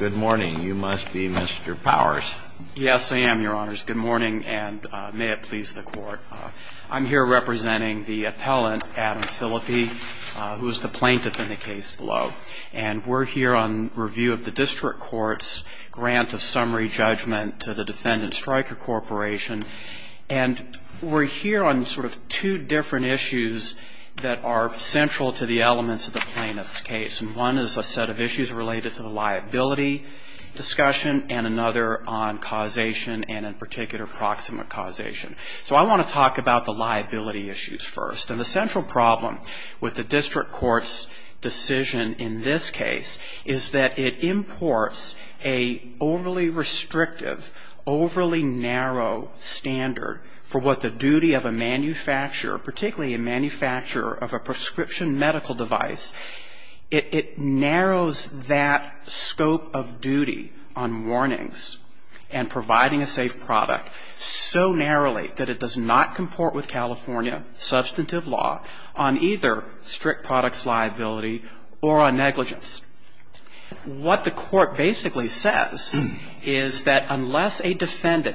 Good morning. You must be Mr. Powers. Yes, I am, Your Honors. Good morning, and may it please the Court. I'm here representing the appellant, Adam Phillippi, who is the plaintiff in the case below. And we're here on review of the district court's grant of summary judgment to the defendant, Stryker Corporation, and we're here on sort of two different issues that are central to the elements of the plaintiff's case. And one is a set of issues related to the liability discussion and another on causation and, in particular, proximate causation. So I want to talk about the liability issues first. And the central problem with the district court's decision in this case is that it imports an overly restrictive, overly narrow standard for what the duty of a manufacturer, particularly a manufacturer of a prescription medical device, it narrows that scope of duty on warnings and providing a safe product so narrowly that it does not comport with California substantively. And so the district court's decision in this case is that it imports an overly restrictive, overly narrow standard for what the duty of a manufacturer, particularly a manufacturer of a prescription medical device, it narrows that scope of duty on warnings and providing a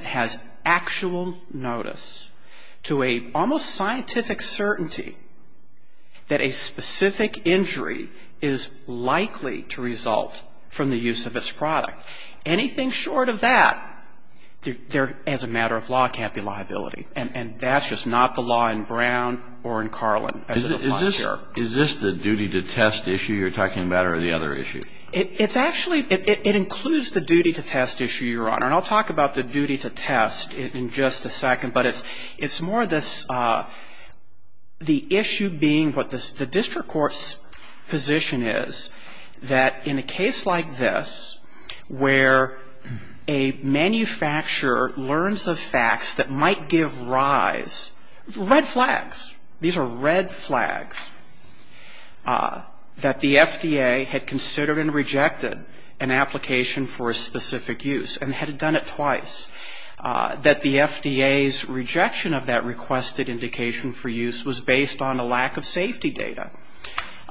safe product so narrowly that it does not comport with California substantively. And so the district court's decision in this case is that it imports an overly restrictive, overly narrow standard for what the duty of a manufacturer, particularly a manufacturer of a prescription medical device, it narrows that scope of duty on warnings and providing a safe product so narrowly that it does not comport with California substantively. These are red flags that the FDA had considered and rejected an application for a specific use and had done it twice. That the FDA's rejection of that requested indication for use was based on a lack of safety data.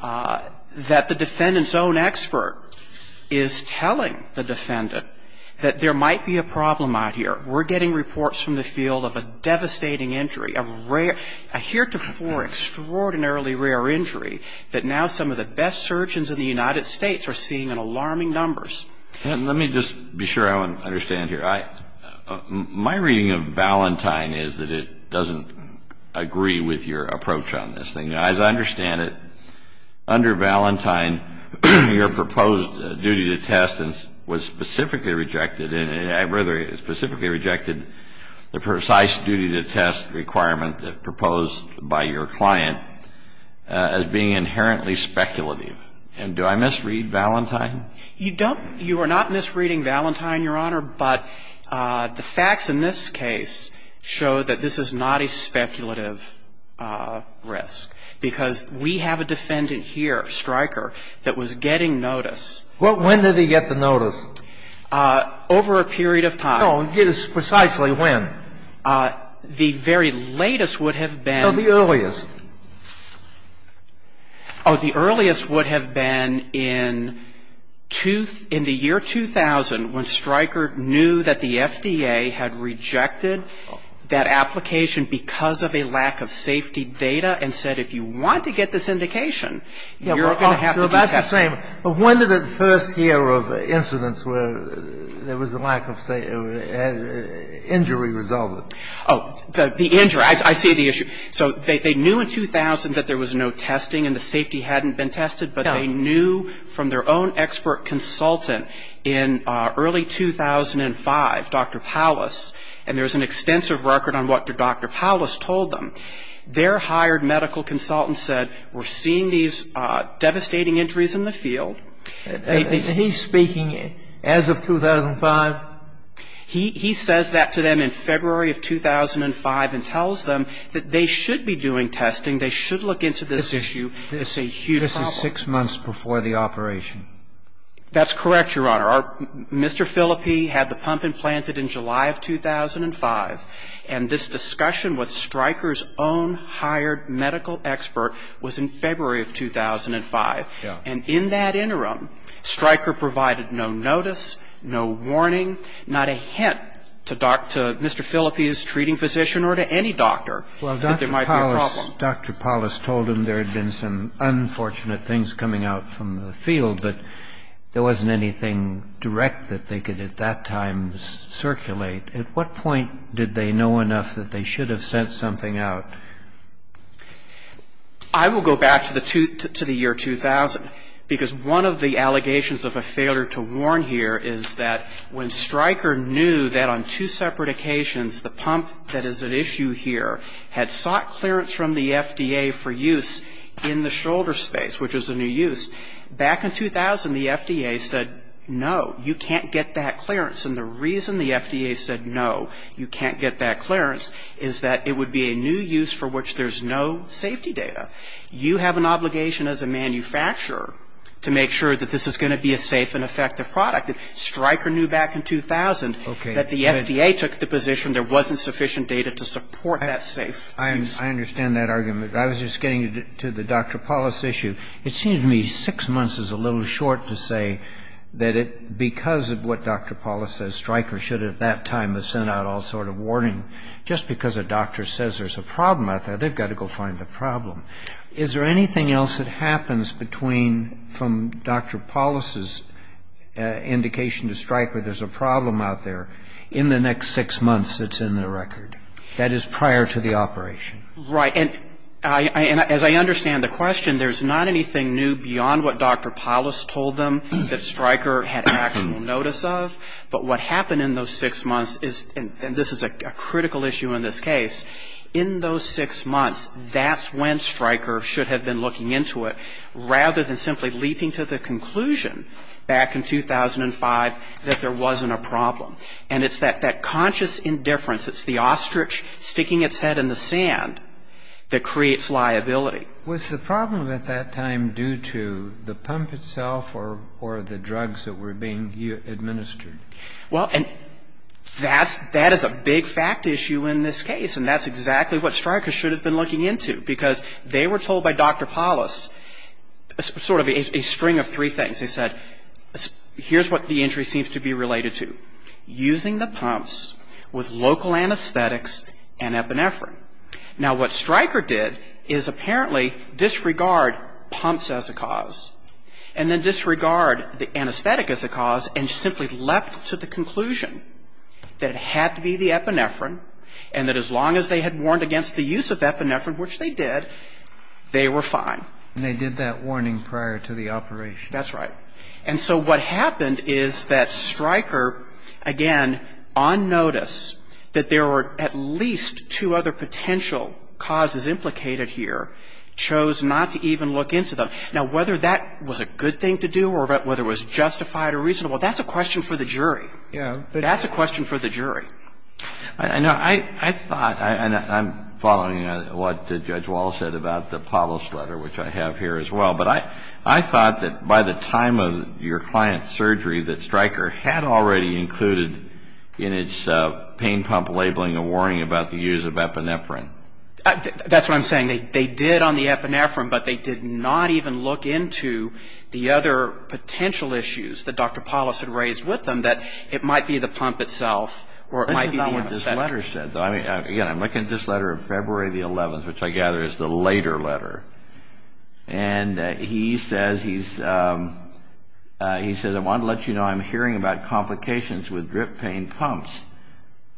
That the defendant's own expert is telling the defendant that there might be a problem out here. We're getting reports from the field of a devastating injury, a rare, a heretofore extraordinarily rare injury that now some of the best surgeons in the United States are seeing in alarming numbers. And let me just be sure I understand here. My reading of Valentine is that it doesn't agree with your approach on this thing. Now, as I understand it, under Valentine, your proposed duty to test was specifically rejected and rather specifically rejected the precise duty to test requirement that proposed by your client as being inherently speculative. And do I misread Valentine? You don't – you are not misreading Valentine, Your Honor, but the facts in this case show that this is not a speculative risk. Because we have a defendant here, Stryker, that was getting notice. Well, when did he get the notice? Over a period of time. No, precisely when? The very latest would have been. No, the earliest. Oh, the earliest would have been in two – in the year 2000, when Stryker knew that the FDA had rejected that application because of a lack of safety data and said, if you want to get this indication, you're going to have to do testing. So that's the same. But when did it first hear of incidents where there was a lack of safety – injury resolved? Oh, the injury. I see the issue. So they knew in 2000 that there was no testing and the safety hadn't been tested, but they knew from their own expert consultant in early 2005, Dr. Paulus, and there was an extensive record on what Dr. Paulus told them, their hired medical consultant said, we're seeing these devastating injuries in the field. Is he speaking as of 2005? He says that to them in February of 2005 and tells them that they should be doing testing, they should look into this issue. It's a huge problem. This is six months before the operation. That's correct, Your Honor. Our – Mr. Filippi had the pump implanted in July of 2005, and this discussion with Stryker's own hired medical expert was in February of 2005. Yes. And in that interim, Stryker provided no notice, no warning, not a hint to Dr. – Mr. Filippi's treating physician or to any doctor that there might be a problem. Well, Dr. Paulus told them there had been some unfortunate things coming out from the field, but there wasn't anything direct that they could at that time circulate. At what point did they know enough that they should have sent something out? I will go back to the year 2000, because one of the allegations of a failure to warn here is that when Stryker knew that on two separate occasions the pump that is at issue here had sought clearance from the FDA for use in the shoulder space, which is a new use, back in 2000 the FDA said, no, you can't get that clearance. And the reason the FDA said, no, you can't get that clearance, is that it would be a new use for which there's no safety data. You have an obligation as a manufacturer to make sure that this is going to be a safe and effective product. Stryker knew back in 2000 that the FDA took the position there wasn't sufficient data to support that safe use. I understand that argument. I was just getting to the Dr. Paulus issue. It seems to me six months is a little short to say that because of what Dr. Paulus says, Stryker should at that time have sent out all sort of warning. Just because a doctor says there's a problem out there, they've got to go find the problem. Is there anything else that happens between from Dr. Paulus' indication to Stryker there's a problem out there in the next six months that's in the record, that is prior to the operation? Right. And as I understand the question, there's not anything new beyond what Dr. Paulus told them that Stryker had actual notice of, but what happened in those six months is, and this is a critical issue in this case, in those six months that's when Stryker should have been looking into it rather than simply leaping to the conclusion back in 2005 that there wasn't a problem. And it's that conscious indifference, it's the ostrich sticking its head in the sand that creates liability. Was the problem at that time due to the pump itself or the drugs that were being administered? Well, that is a big fact issue in this case, and that's exactly what Stryker should have been looking into, because they were told by Dr. Paulus sort of a string of three things. They said, here's what the injury seems to be related to. Using the pumps with local anesthetics and epinephrine. Now, what Stryker did is apparently disregard pumps as a cause and then disregard the anesthetic as a cause and simply leapt to the conclusion that it had to be the epinephrine and that as long as they had warned against the use of epinephrine, which they did, they were fine. And they did that warning prior to the operation. That's right. And so what happened is that Stryker, again, on notice that there were at least two other potential causes implicated here, chose not to even look into them. Now, whether that was a good thing to do or whether it was justified or reasonable, that's a question for the jury. Yeah. That's a question for the jury. I know. I thought, and I'm following what Judge Wallace said about the Paulus letter, which I have here as well. But I thought that by the time of your client's surgery that Stryker had already included in its pain pump labeling a warning about the use of epinephrine. That's what I'm saying. They did on the epinephrine, but they did not even look into the other potential issues that Dr. Paulus had raised with them that it might be the pump itself or it might be the anesthetic. Listen to what this letter says. Again, I'm looking at this letter of February the 11th, which I gather is the later letter. And he says, he says, I want to let you know I'm hearing about complications with drip pain pumps.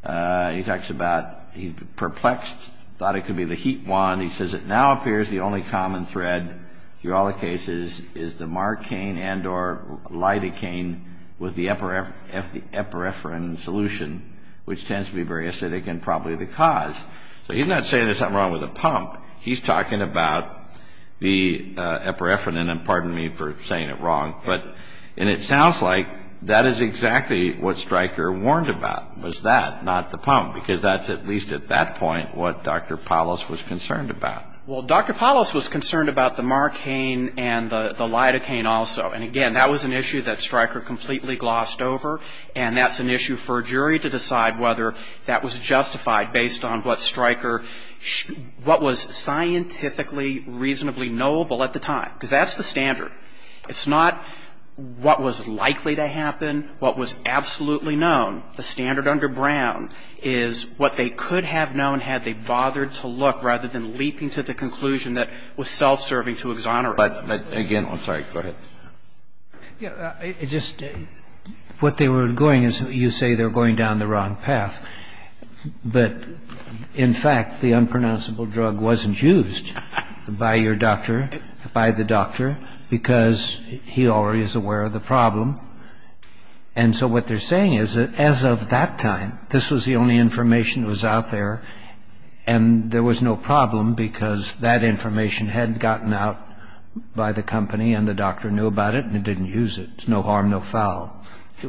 He talks about he's perplexed, thought it could be the heat wand. He says, it now appears the only common thread through all the cases is the marcaine and or lidocaine with the epinephrine solution, which tends to be very acidic and probably the cause. So he's not saying there's something wrong with the pump. He's talking about the epinephrine. And pardon me for saying it wrong. And it sounds like that is exactly what Stryker warned about was that, not the pump, because that's at least at that point what Dr. Paulus was concerned about. Well, Dr. Paulus was concerned about the marcaine and the lidocaine also. And again, that was an issue that Stryker completely glossed over. And that's an issue for a jury to decide whether that was justified based on what Dr. Paulus was concerned about. Now, I'm not saying that Stryker was wrong. I'm saying that Stryker, what was scientifically reasonably knowable at the time, because that's the standard. It's not what was likely to happen, what was absolutely known. The standard under Brown is what they could have known had they bothered to look rather than leaping to the conclusion that was self-serving to exonerate them. But again, I'm sorry. Go ahead. Just what they were doing is you say they were going down the wrong path. But in fact, the unpronounceable drug wasn't used by your doctor, by the doctor, because he already is aware of the problem. And so what they're saying is that as of that time, this was the only information that was out there, and there was no problem because that information hadn't gotten out by the company and the doctor knew about it and didn't use it. No harm, no foul.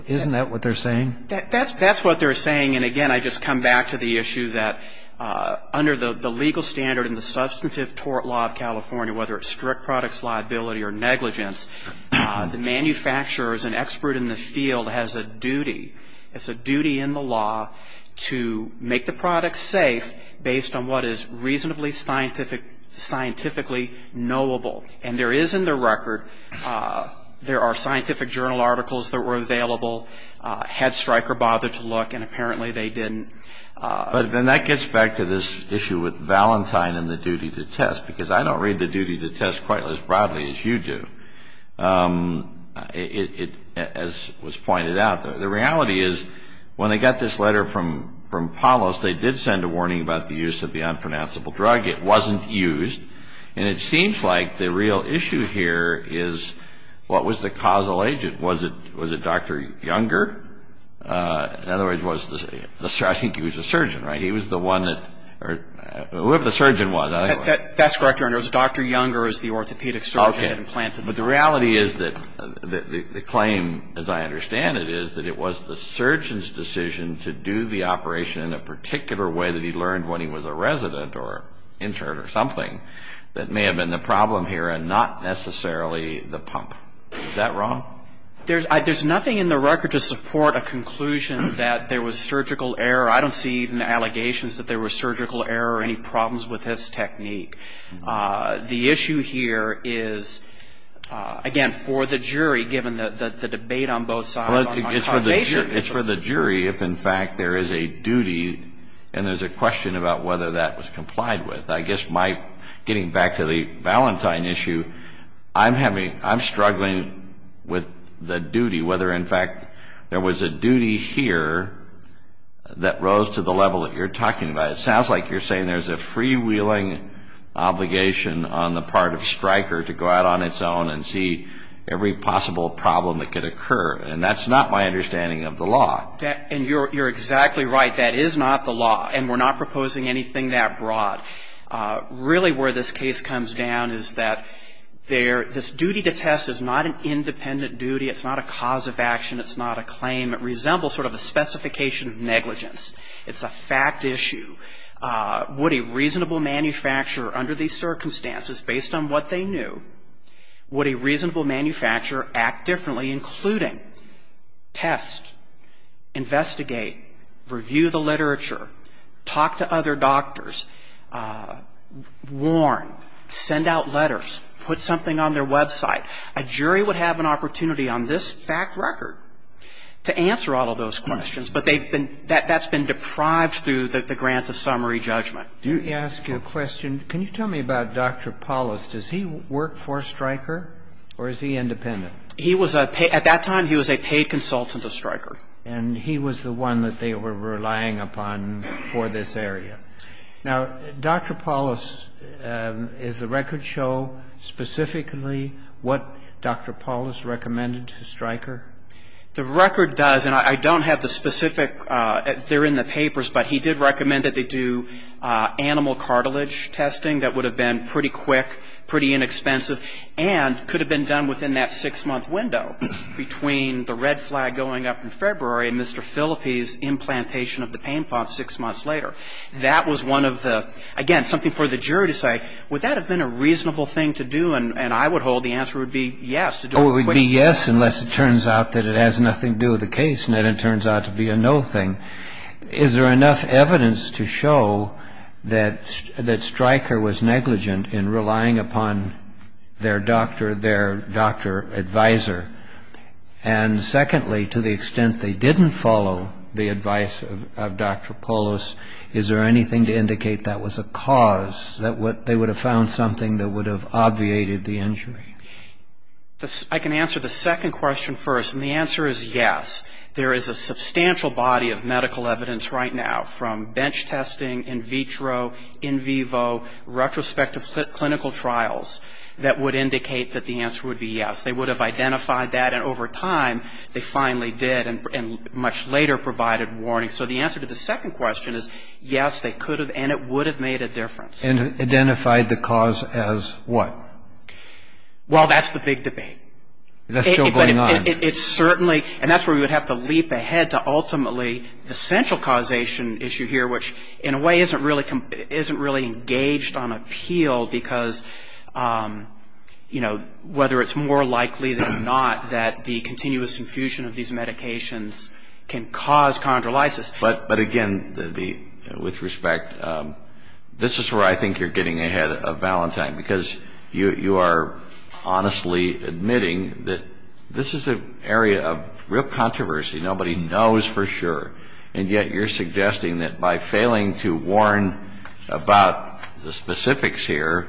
Isn't that what they're saying? That's what they're saying. And again, I just come back to the issue that under the legal standard and the substantive tort law of California, whether it's strict products liability or negligence, the manufacturer is an expert in the field, has a duty. It's a duty in the law to make the product safe based on what is reasonably scientifically knowable. And there is in the record, there are scientific journal articles that were available, Head Striker bothered to look, and apparently they didn't. But then that gets back to this issue with Valentine and the duty to test, because I don't read the duty to test quite as broadly as you do, as was pointed out. The reality is when they got this letter from Palos, they did send a warning about the use of the unpronounceable drug. It wasn't used. And it seems like the real issue here is what was the causal agent? Was it Dr. Younger? In other words, I think he was a surgeon, right? He was the one that or whoever the surgeon was. That's correct, Your Honor. It was Dr. Younger as the orthopedic surgeon that implanted it. Okay. But the reality is that the claim, as I understand it, is that it was the surgeon's decision to do the operation in a particular way that he learned when he was a resident or intern or something that may have been the problem here and not necessarily the pump. Is that wrong? There's nothing in the record to support a conclusion that there was surgical error. I don't see even allegations that there was surgical error or any problems with his technique. The issue here is, again, for the jury, given the debate on both sides on the causation. It's for the jury if, in fact, there is a duty and there's a question about whether that was complied with. I guess my getting back to the Valentine issue, I'm struggling with the duty, whether, in fact, there was a duty here that rose to the level that you're talking about. It sounds like you're saying there's a freewheeling obligation on the part of Stryker to go out on its own and see every possible problem that could occur. And that's not my understanding of the law. And you're exactly right. That is not the law. And we're not proposing anything that broad. Really where this case comes down is that this duty to test is not an independent duty. It's not a cause of action. It's not a claim. It resembles sort of a specification of negligence. It's a fact issue. Would a reasonable manufacturer under these circumstances, based on what they knew, would a reasonable manufacturer act differently, including test, investigate, review the literature, talk to other doctors, warn, send out letters, put something on their website? A jury would have an opportunity on this fact record to answer all of those questions, but they've been – that's been deprived through the grant of summary judgment. Do you have a question? Can you tell me about Dr. Paulus? Does he work for Stryker or is he independent? He was a – at that time, he was a paid consultant to Stryker. And he was the one that they were relying upon for this area. Now, Dr. Paulus, does the record show specifically what Dr. Paulus recommended to Stryker? The record does. And I don't have the specific – they're in the papers, but he did recommend that they do animal cartilage testing. That would have been pretty quick, pretty inexpensive, and could have been done within that six-month window between the red flag going up in February and Mr. Phillippe's implantation of the pain pump six months later. That was one of the – again, something for the jury to say, would that have been a reasonable thing to do? And I would hold the answer would be yes, to do it quickly. So it would be yes unless it turns out that it has nothing to do with the case and then it turns out to be a no thing. Is there enough evidence to show that Stryker was negligent in relying upon their doctor, their doctor advisor? And secondly, to the extent they didn't follow the advice of Dr. Paulus, is there anything to indicate that was a cause, that they would have found something that would have obviated the injury? I can answer the second question first, and the answer is yes. There is a substantial body of medical evidence right now from bench testing, in vitro, in vivo, retrospective clinical trials, that would indicate that the answer would be yes. They would have identified that, and over time, they finally did, and much later provided warnings. So the answer to the second question is yes, they could have, and it would have made a difference. And identified the cause as what? Well, that's the big debate. That's still going on. It's certainly, and that's where we would have to leap ahead to ultimately the central causation issue here, which in a way isn't really engaged on appeal because, you know, whether it's more likely than not that the continuous infusion of these medications can cause chondrolysis. But again, with respect, this is where I think you're getting ahead of Valentine because you are honestly admitting that this is an area of real controversy. Nobody knows for sure, and yet you're suggesting that by failing to warn about the specifics here,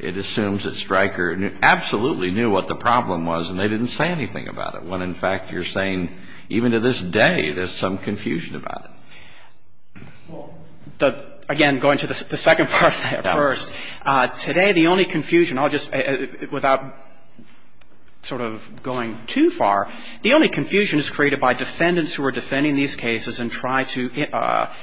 it assumes that Stryker absolutely knew what the problem was and they didn't say anything about it, when in fact you're saying even to this day there's some confusion about it. Well, again, going to the second part there first, today the only confusion I'll just, without sort of going too far, the only confusion is created by defendants who are defending these cases and try to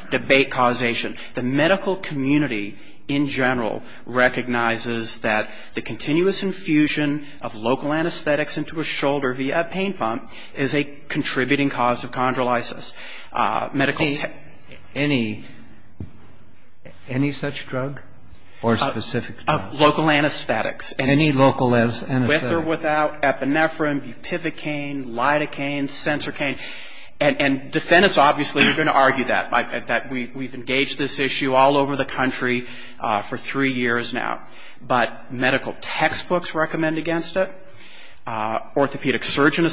debate causation. The medical community in general recognizes that the continuous infusion of local anesthetics can cause chondrolysis. Any such drug or specific drugs? Local anesthetics. Any local anesthetics? With or without epinephrine, bupivacaine, lidocaine, sensorcaine. And defendants obviously are going to argue that, that we've engaged this issue all over the country for three years now. But medical textbooks recommend against it. Logistical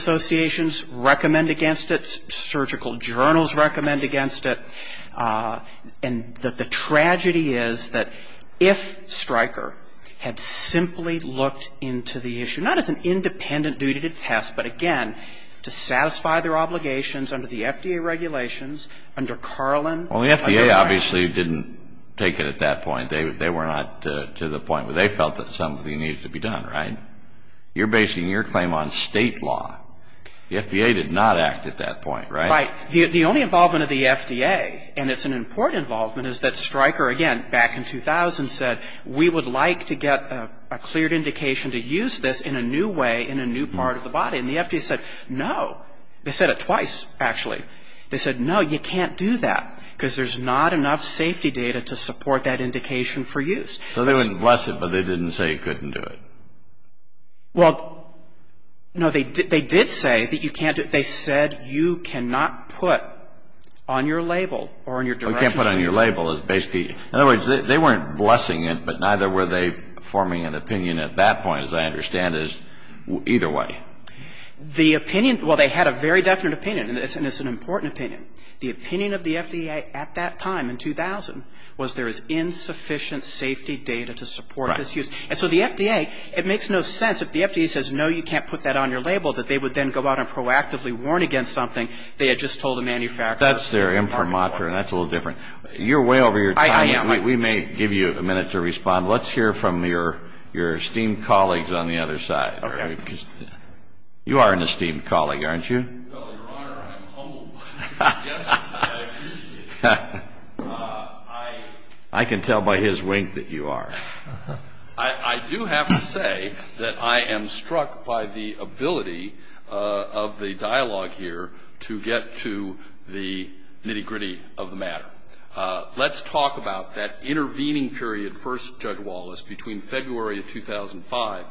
journals recommend against it. And the tragedy is that if Stryker had simply looked into the issue, not as an independent duty to test, but again, to satisfy their obligations under the FDA regulations, under Carlin. Well, the FDA obviously didn't take it at that point. They were not to the point where they felt that something needed to be done, right? You're basing your claim on State law. The FDA did not act at that point, right? Right. The only involvement of the FDA, and it's an important involvement, is that Stryker, again, back in 2000 said, we would like to get a cleared indication to use this in a new way, in a new part of the body. And the FDA said, no. They said it twice, actually. They said, no, you can't do that, because there's not enough safety data to support that indication for use. So they wouldn't bless it, but they didn't say you couldn't do it. Well, no, they did say that you can't do it. They said you cannot put on your label or on your directions. You can't put it on your label. In other words, they weren't blessing it, but neither were they forming an opinion at that point, as I understand it. Either way. The opinion, well, they had a very definite opinion, and it's an important opinion. The opinion of the FDA at that time, in 2000, was there is insufficient safety data to support this use. Right. And so the FDA, it makes no sense. If the FDA says, no, you can't put that on your label, that they would then go out and proactively warn against something they had just told a manufacturer. That's their imprimatur, and that's a little different. You're way over your time. I am. We may give you a minute to respond. Let's hear from your esteemed colleagues on the other side. Okay. Because you are an esteemed colleague, aren't you? Well, Your Honor, I'm humbled by the suggestion, and I appreciate it. I can tell by his wink that you are. I do have to say that I am struck by the ability of the dialogue here to get to the nitty-gritty of the matter. Let's talk about that intervening period, First Judge Wallace, between February of 2005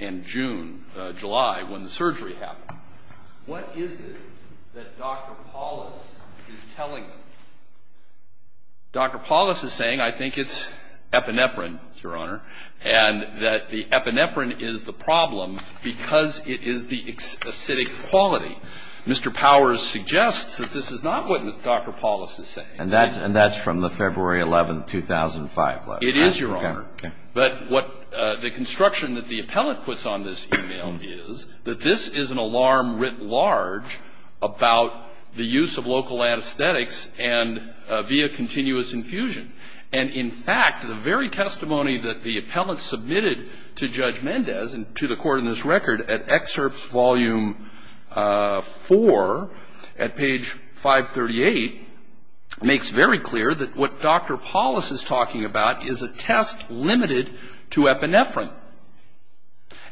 and June, July, when the surgery happened. What is it that Dr. Paulus is telling me? Dr. Paulus is saying I think it's epinephrine, Your Honor, and that the epinephrine is the problem because it is the acidic quality. Mr. Powers suggests that this is not what Dr. Paulus is saying. And that's from the February 11, 2005 letter. It is, Your Honor. Okay. But what the construction that the appellate puts on this e-mail is that this is an alarm written large about the use of local anesthetics and via continuous infusion. And, in fact, the very testimony that the appellate submitted to Judge Mendez and to the Court in this record at Excerpt Volume 4 at page 538 makes very clear that what Dr. Paulus is talking about is a test limited to epinephrine.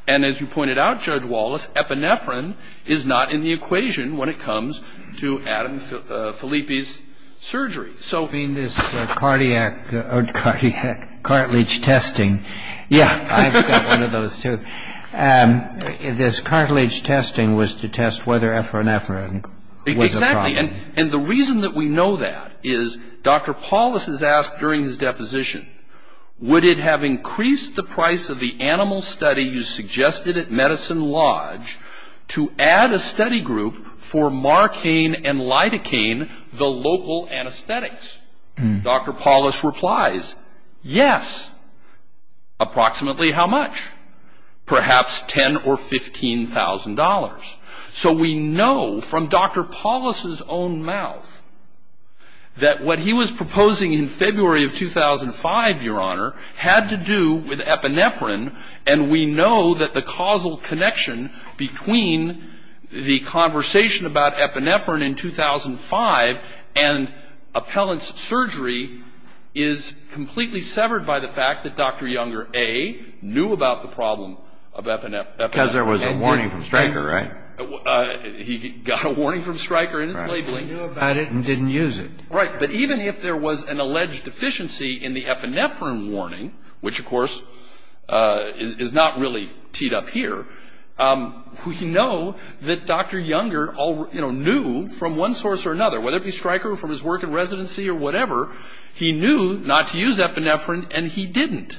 And as you pointed out, Judge Wallace, epinephrine is not in the equation when it comes to Adam Filippi's surgery. I mean this cardiac cartilage testing. Yeah. I've got one of those, too. This cartilage testing was to test whether epinephrine was a problem. Exactly. And the reason that we know that is Dr. Paulus has asked during his deposition, would it have increased the price of the animal study you suggested at Medicine Lodge to add a study group for marcaine and lidocaine, the local anesthetics? Dr. Paulus replies, yes. Approximately how much? Perhaps $10,000 or $15,000. So we know from Dr. Paulus's own mouth that what he was proposing in February of 2005, Your Honor, had to do with epinephrine, and we know that the causal connection between the conversation about epinephrine in 2005 and Appellant's surgery is completely severed by the fact that Dr. Younger A. knew about the problem of epinephrine. Because there was a warning from Stryker, right? He got a warning from Stryker in his labeling. He knew about it and didn't use it. Right. But even if there was an alleged deficiency in the epinephrine warning, which of course is not really teed up here, we know that Dr. Younger knew from one source or another, whether it be Stryker or from his work in residency or whatever, he knew not to use epinephrine, and he didn't.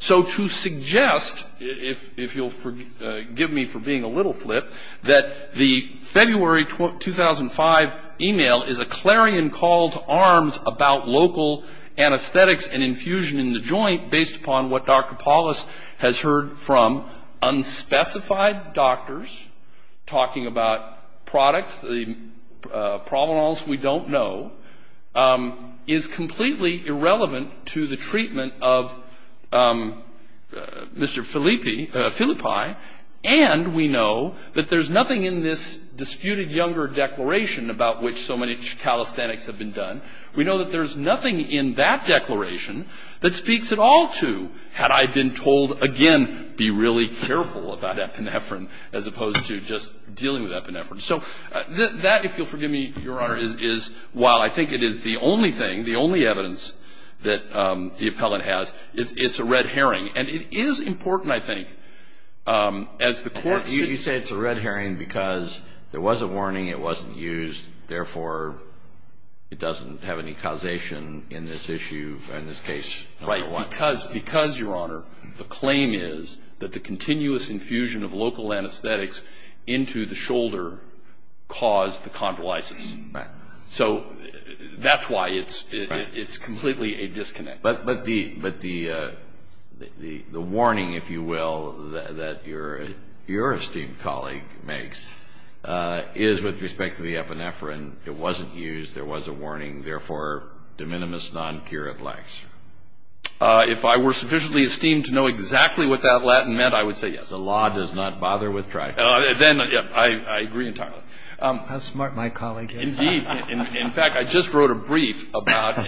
So to suggest, if you'll forgive me for being a little flip, that the February 2005 email is a clarion call to arms about local anesthetics and infusion in the joint based upon what Dr. Paulus has heard from unspecified doctors talking about products, the provenance we don't know, is completely irrelevant to the treatment of Mr. Filippi, and we know that there's nothing in this disputed Younger declaration about which so many calisthenics have been done. We know that there's nothing in that declaration that speaks at all to, had I been told again, be really careful about epinephrine, as opposed to just dealing with epinephrine. So that, if you'll forgive me, Your Honor, is, while I think it is the only thing, the only evidence that the appellant has, it's a red herring. And it is important, I think, as the court sees it. You say it's a red herring because there was a warning, it wasn't used, therefore it doesn't have any causation in this issue, in this case, no matter what. Right. Because, Your Honor, the claim is that the continuous infusion of local anesthetics into the shoulder caused the chondrolysis. Right. So that's why it's completely a disconnect. But the warning, if you will, that your esteemed colleague makes, is with respect to the epinephrine, it wasn't used, there was a warning, therefore de minimis non curat lax. If I were sufficiently esteemed to know exactly what that Latin meant, I would say yes. The law does not bother with trifles. Then I agree entirely. How smart my colleague is. Indeed. In fact, I just wrote a brief about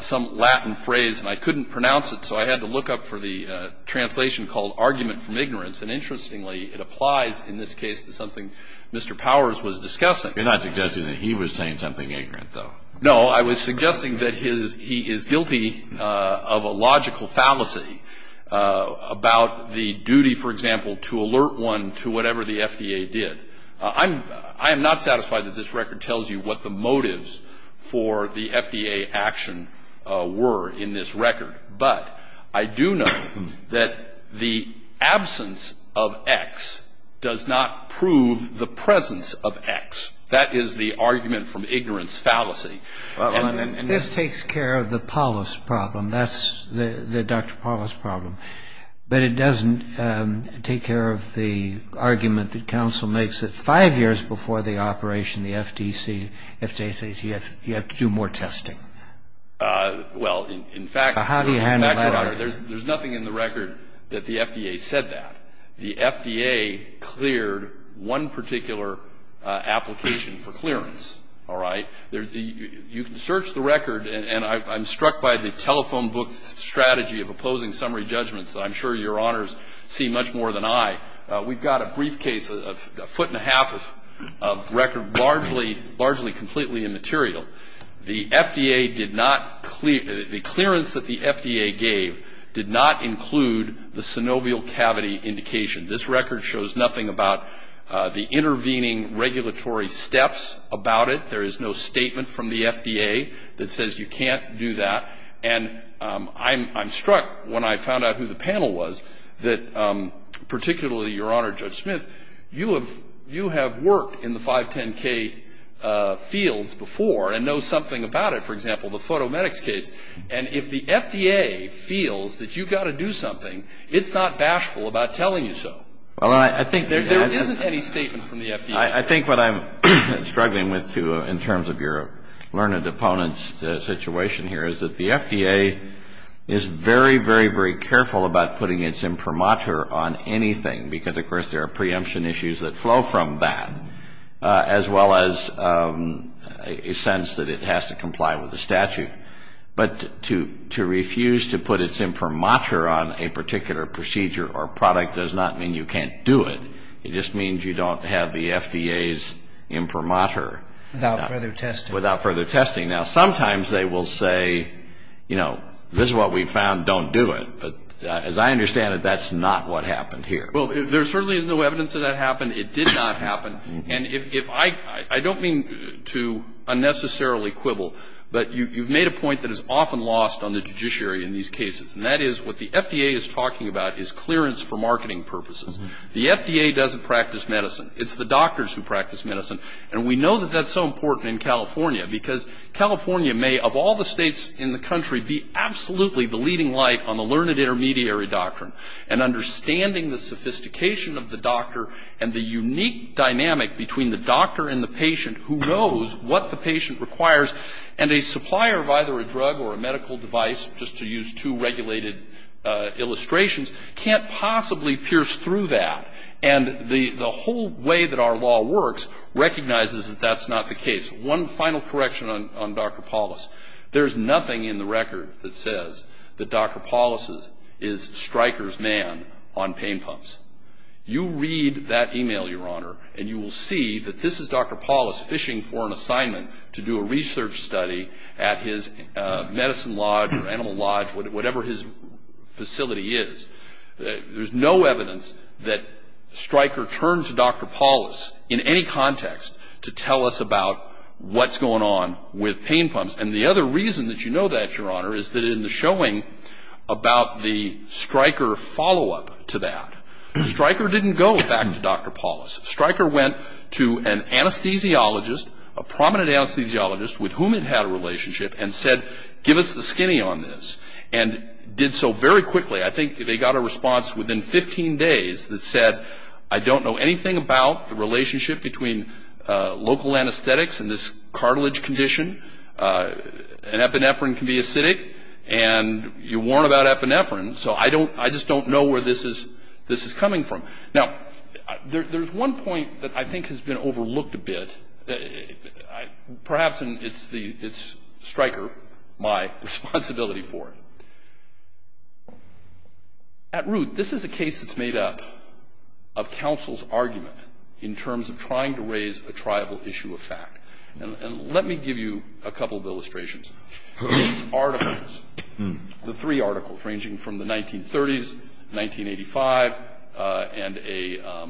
some Latin phrase, and I couldn't pronounce it, so I had to look up for the translation called argument from ignorance. And interestingly, it applies in this case to something Mr. Powers was discussing. You're not suggesting that he was saying something ignorant, though. No, I was suggesting that he is guilty of a logical fallacy about the duty, for example, to alert one to whatever the FDA did. I am not satisfied that this record tells you what the motives for the FDA action were in this record. But I do know that the absence of X does not prove the presence of X. That is the argument from ignorance fallacy. This takes care of the Paulus problem. That's the Dr. Paulus problem. But it doesn't take care of the argument that counsel makes that five years before the operation, the FDC, FDIC, you have to do more testing. Well, in fact, Your Honor, there's nothing in the record that the FDA said that. The FDA cleared one particular application for clearance. All right? You can search the record, and I'm struck by the telephone book strategy of opposing summary judgments that I'm sure Your Honors see much more than I. We've got a briefcase, a foot and a half of record, largely completely immaterial. The FDA did not clear the clearance that the FDA gave did not include the synovial cavity indication. This record shows nothing about the intervening regulatory steps about it. There is no statement from the FDA that says you can't do that. And I'm struck when I found out who the panel was that particularly, Your Honor, Judge Smith, you have worked in the 510K fields before and know something about it. For example, the photomedics case. And if the FDA feels that you've got to do something, it's not bashful about telling you so. There isn't any statement from the FDA. I think what I'm struggling with, too, in terms of your learned opponent's situation here, is that the FDA is very, very, very careful about putting its imprimatur on anything. Because, of course, there are preemption issues that flow from that, as well as a sense that it has to comply with the statute. But to refuse to put its imprimatur on a particular procedure or product does not mean you can't do it. It just means you don't have the FDA's imprimatur. Without further testing. Without further testing. Now, sometimes they will say, you know, this is what we found, don't do it. But as I understand it, that's not what happened here. Well, there certainly is no evidence that that happened. It did not happen. And if I don't mean to unnecessarily quibble, but you've made a point that is often lost on the judiciary in these cases. And that is what the FDA is talking about is clearance for marketing purposes. The FDA doesn't practice medicine. It's the doctors who practice medicine. And we know that that's so important in California, because California may, of all the states in the country, be absolutely the leading light on the learned intermediary doctrine. And understanding the sophistication of the doctor and the unique dynamic between the doctor and the patient who knows what the patient requires, and a supplier of either a drug or a medical device, just to use two regulated illustrations, can't possibly pierce through that. And the whole way that our law works recognizes that that's not the case. One final correction on Dr. Paulus. There's nothing in the record that says that Dr. Paulus is Stryker's man on pain pumps. You read that e-mail, Your Honor, and you will see that this is Dr. Paulus fishing for an assignment to do a research study at his medicine lodge or animal lodge, whatever his facility is. There's no evidence that Stryker turned to Dr. Paulus in any context to tell us about what's going on with pain pumps. And the other reason that you know that, Your Honor, is that in the showing about the Stryker follow-up to that, Stryker didn't go back to Dr. Paulus. Stryker went to an anesthesiologist, a prominent anesthesiologist with whom it had a relationship, and said, give us the skinny on this, and did so very quickly. I think they got a response within 15 days that said, I don't know anything about the relationship between local anesthetics and this cartilage condition. An epinephrine can be acidic, and you warn about epinephrine, so I just don't know where this is coming from. Now, there's one point that I think has been overlooked a bit, perhaps, and it's Stryker, my responsibility for it. At root, this is a case that's made up of counsel's argument in terms of trying to raise a tribal issue of fact. And let me give you a couple of illustrations. These articles, the three articles ranging from the 1930s, 1985, and a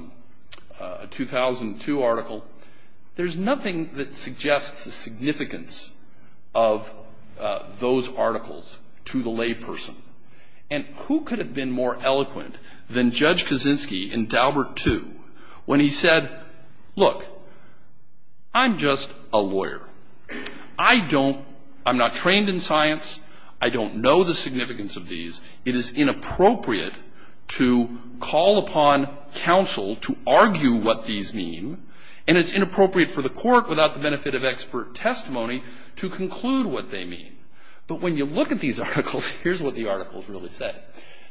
2002 article, there's nothing that suggests the significance of those articles to the layperson. And who could have been more eloquent than Judge Kaczynski in Daubert II when he said, look, I'm just a lawyer. I don't ‑‑ I'm not trained in science. I don't know the significance of these. It is inappropriate to call upon counsel to argue what these mean, and it's inappropriate for the court, without the benefit of expert testimony, to conclude what they mean. But when you look at these articles, here's what the articles really say.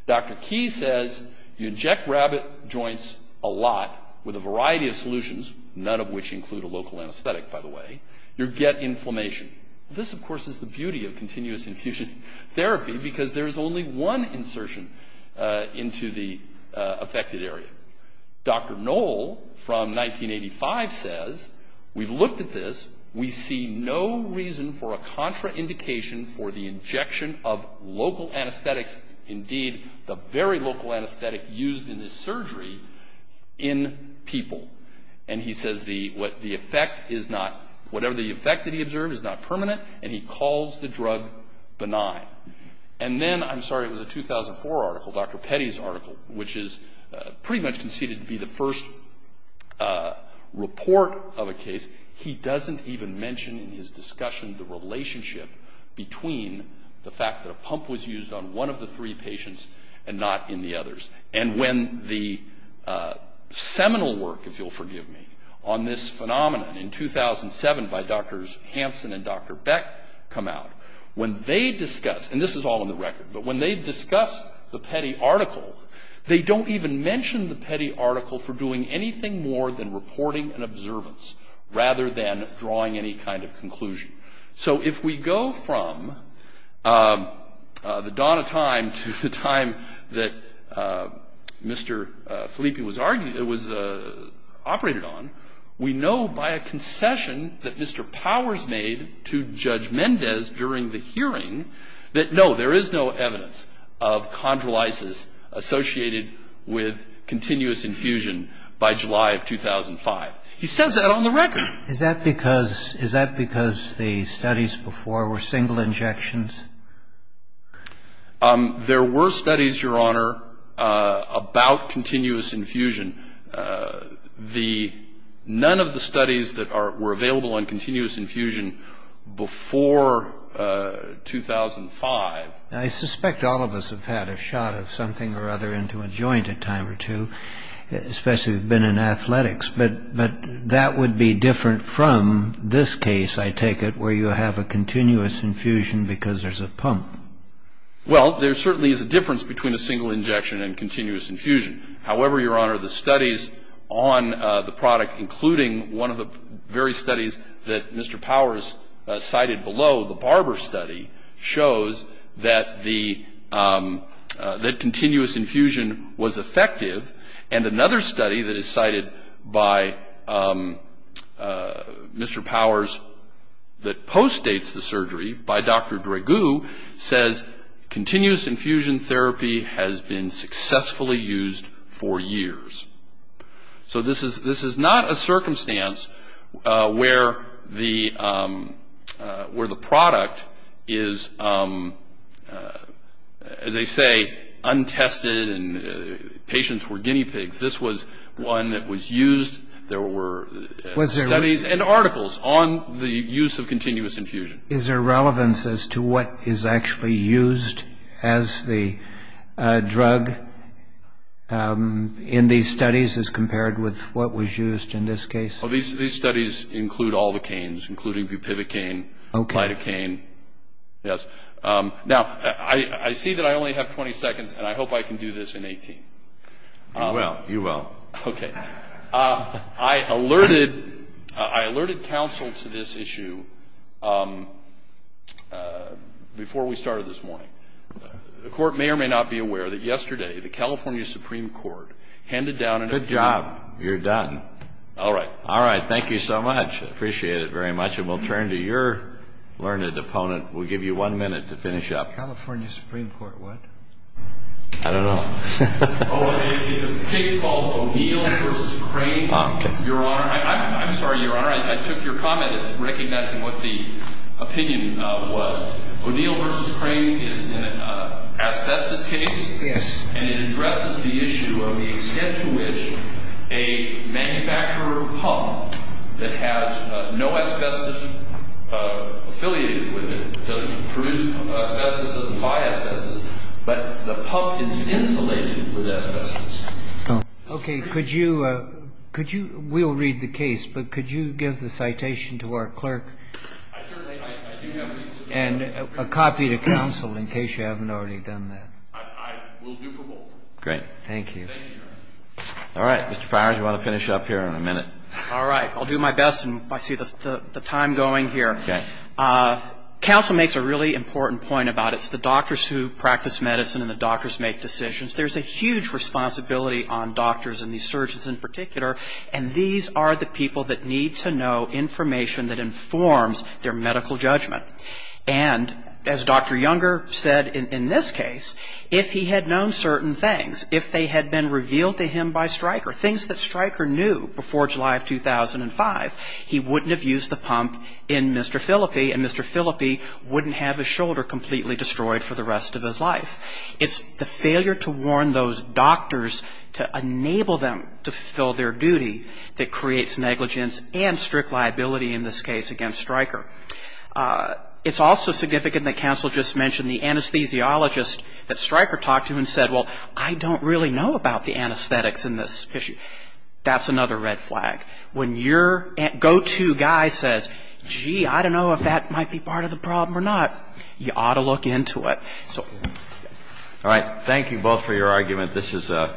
Dr. Key says you inject rabbit joints a lot with a variety of solutions, none of which include a local anesthetic, by the way. You get inflammation. This, of course, is the beauty of continuous infusion therapy because there's only one insertion into the affected area. Dr. Noll from 1985 says we've looked at this. We see no reason for a contraindication for the injection of local anesthetics, indeed the very local anesthetic used in this surgery, in people. And he says the effect is not, whatever the effect that he observed is not permanent, and he calls the drug benign. And then, I'm sorry, it was a 2004 article, Dr. Petty's article, which is pretty much conceded to be the first report of a case. He doesn't even mention in his discussion the relationship between the fact that a pump was used on one of the three patients and not in the others. And when the seminal work, if you'll forgive me, on this phenomenon in 2007 by Drs. Hansen and Dr. Beck come out, when they discuss, and this is all in the record, but when they discuss the Petty article, they don't even mention the Petty article for doing anything more than reporting and observance rather than drawing any kind of conclusion. So if we go from the dawn of time to the time that Mr. Filippi was operated on, we know by a concession that Mr. Powers made to Judge Mendez during the hearing that no, there is no evidence of chondrolysis associated with continuous infusion by July of 2005. He says that on the record. Is that because the studies before were single injections? There were studies, Your Honor, about continuous infusion. None of the studies that were available on continuous infusion before 2005. I suspect all of us have had a shot of something or other into a joint a time or two, especially if you've been in athletics. But that would be different from this case, I take it, where you have a continuous infusion because there's a pump. Well, there certainly is a difference between a single injection and continuous infusion. However, Your Honor, the studies on the product, including one of the various studies that Mr. Powers cited below, the Barber study, shows that continuous infusion was effective. And another study that is cited by Mr. Powers that postdates the surgery by Dr. Dragoo says, continuous infusion therapy has been successfully used for years. So this is not a circumstance where the product is, as they say, untested and patients were guinea pigs. This was one that was used. There were studies and articles on the use of continuous infusion. Is there relevance as to what is actually used as the drug in these studies as compared with what was used in this case? Well, these studies include all the canes, including bupivacaine, lidocaine. Yes. Now, I see that I only have 20 seconds, and I hope I can do this in 18. You will. You will. Okay. I alerted counsel to this issue before we started this morning. The Court may or may not be aware that yesterday the California Supreme Court handed down an opinion. Good job. You're done. All right. All right. Thank you so much. I appreciate it very much. And we'll turn to your learned opponent. We'll give you one minute to finish up. California Supreme Court what? I don't know. It's a case called O'Neill v. Crane, Your Honor. I'm sorry, Your Honor. I took your comment as recognizing what the opinion was. O'Neill v. Crane is an asbestos case. Yes. And it addresses the issue of the extent to which a manufacturer of pump that has no asbestos affiliated with it, doesn't produce asbestos, doesn't buy asbestos, but the pump is insulated with asbestos. Okay. Could you we'll read the case, but could you give the citation to our clerk and a copy to counsel in case you haven't already done that? I will do for both. Great. Thank you. Thank you, Your Honor. All right. Mr. Pryor, do you want to finish up here in a minute? All right. I'll do my best. I see the time going here. Okay. Counsel makes a really important point about it. It's the doctors who practice medicine and the doctors make decisions. There's a huge responsibility on doctors and these surgeons in particular, and these are the people that need to know information that informs their medical judgment. And as Dr. Younger said in this case, if he had known certain things, if they had been revealed to him by Stryker, things that Stryker knew before July of 2005, he wouldn't have used the pump in Mr. Phillippe and Mr. Phillippe wouldn't have his shoulder completely destroyed for the rest of his life. It's the failure to warn those doctors to enable them to fulfill their duty that creates negligence and strict liability in this case against Stryker. It's also significant that counsel just mentioned the anesthesiologist that Stryker talked to and said, well, I don't really know about the anesthetics in this issue. That's another red flag. When your go-to guy says, gee, I don't know if that might be part of the problem or not, you ought to look into it. So. All right. Thank you both for your argument. This is an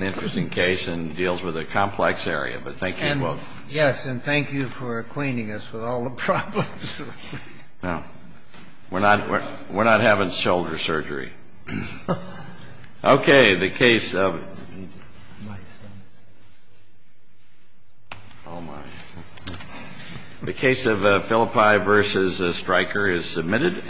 interesting case and deals with a complex area, but thank you both. And yes, and thank you for acquainting us with all the problems. No. We're not having shoulder surgery. Okay. The case of. Oh, my. The case of Phillippe v. Stryker is submitted.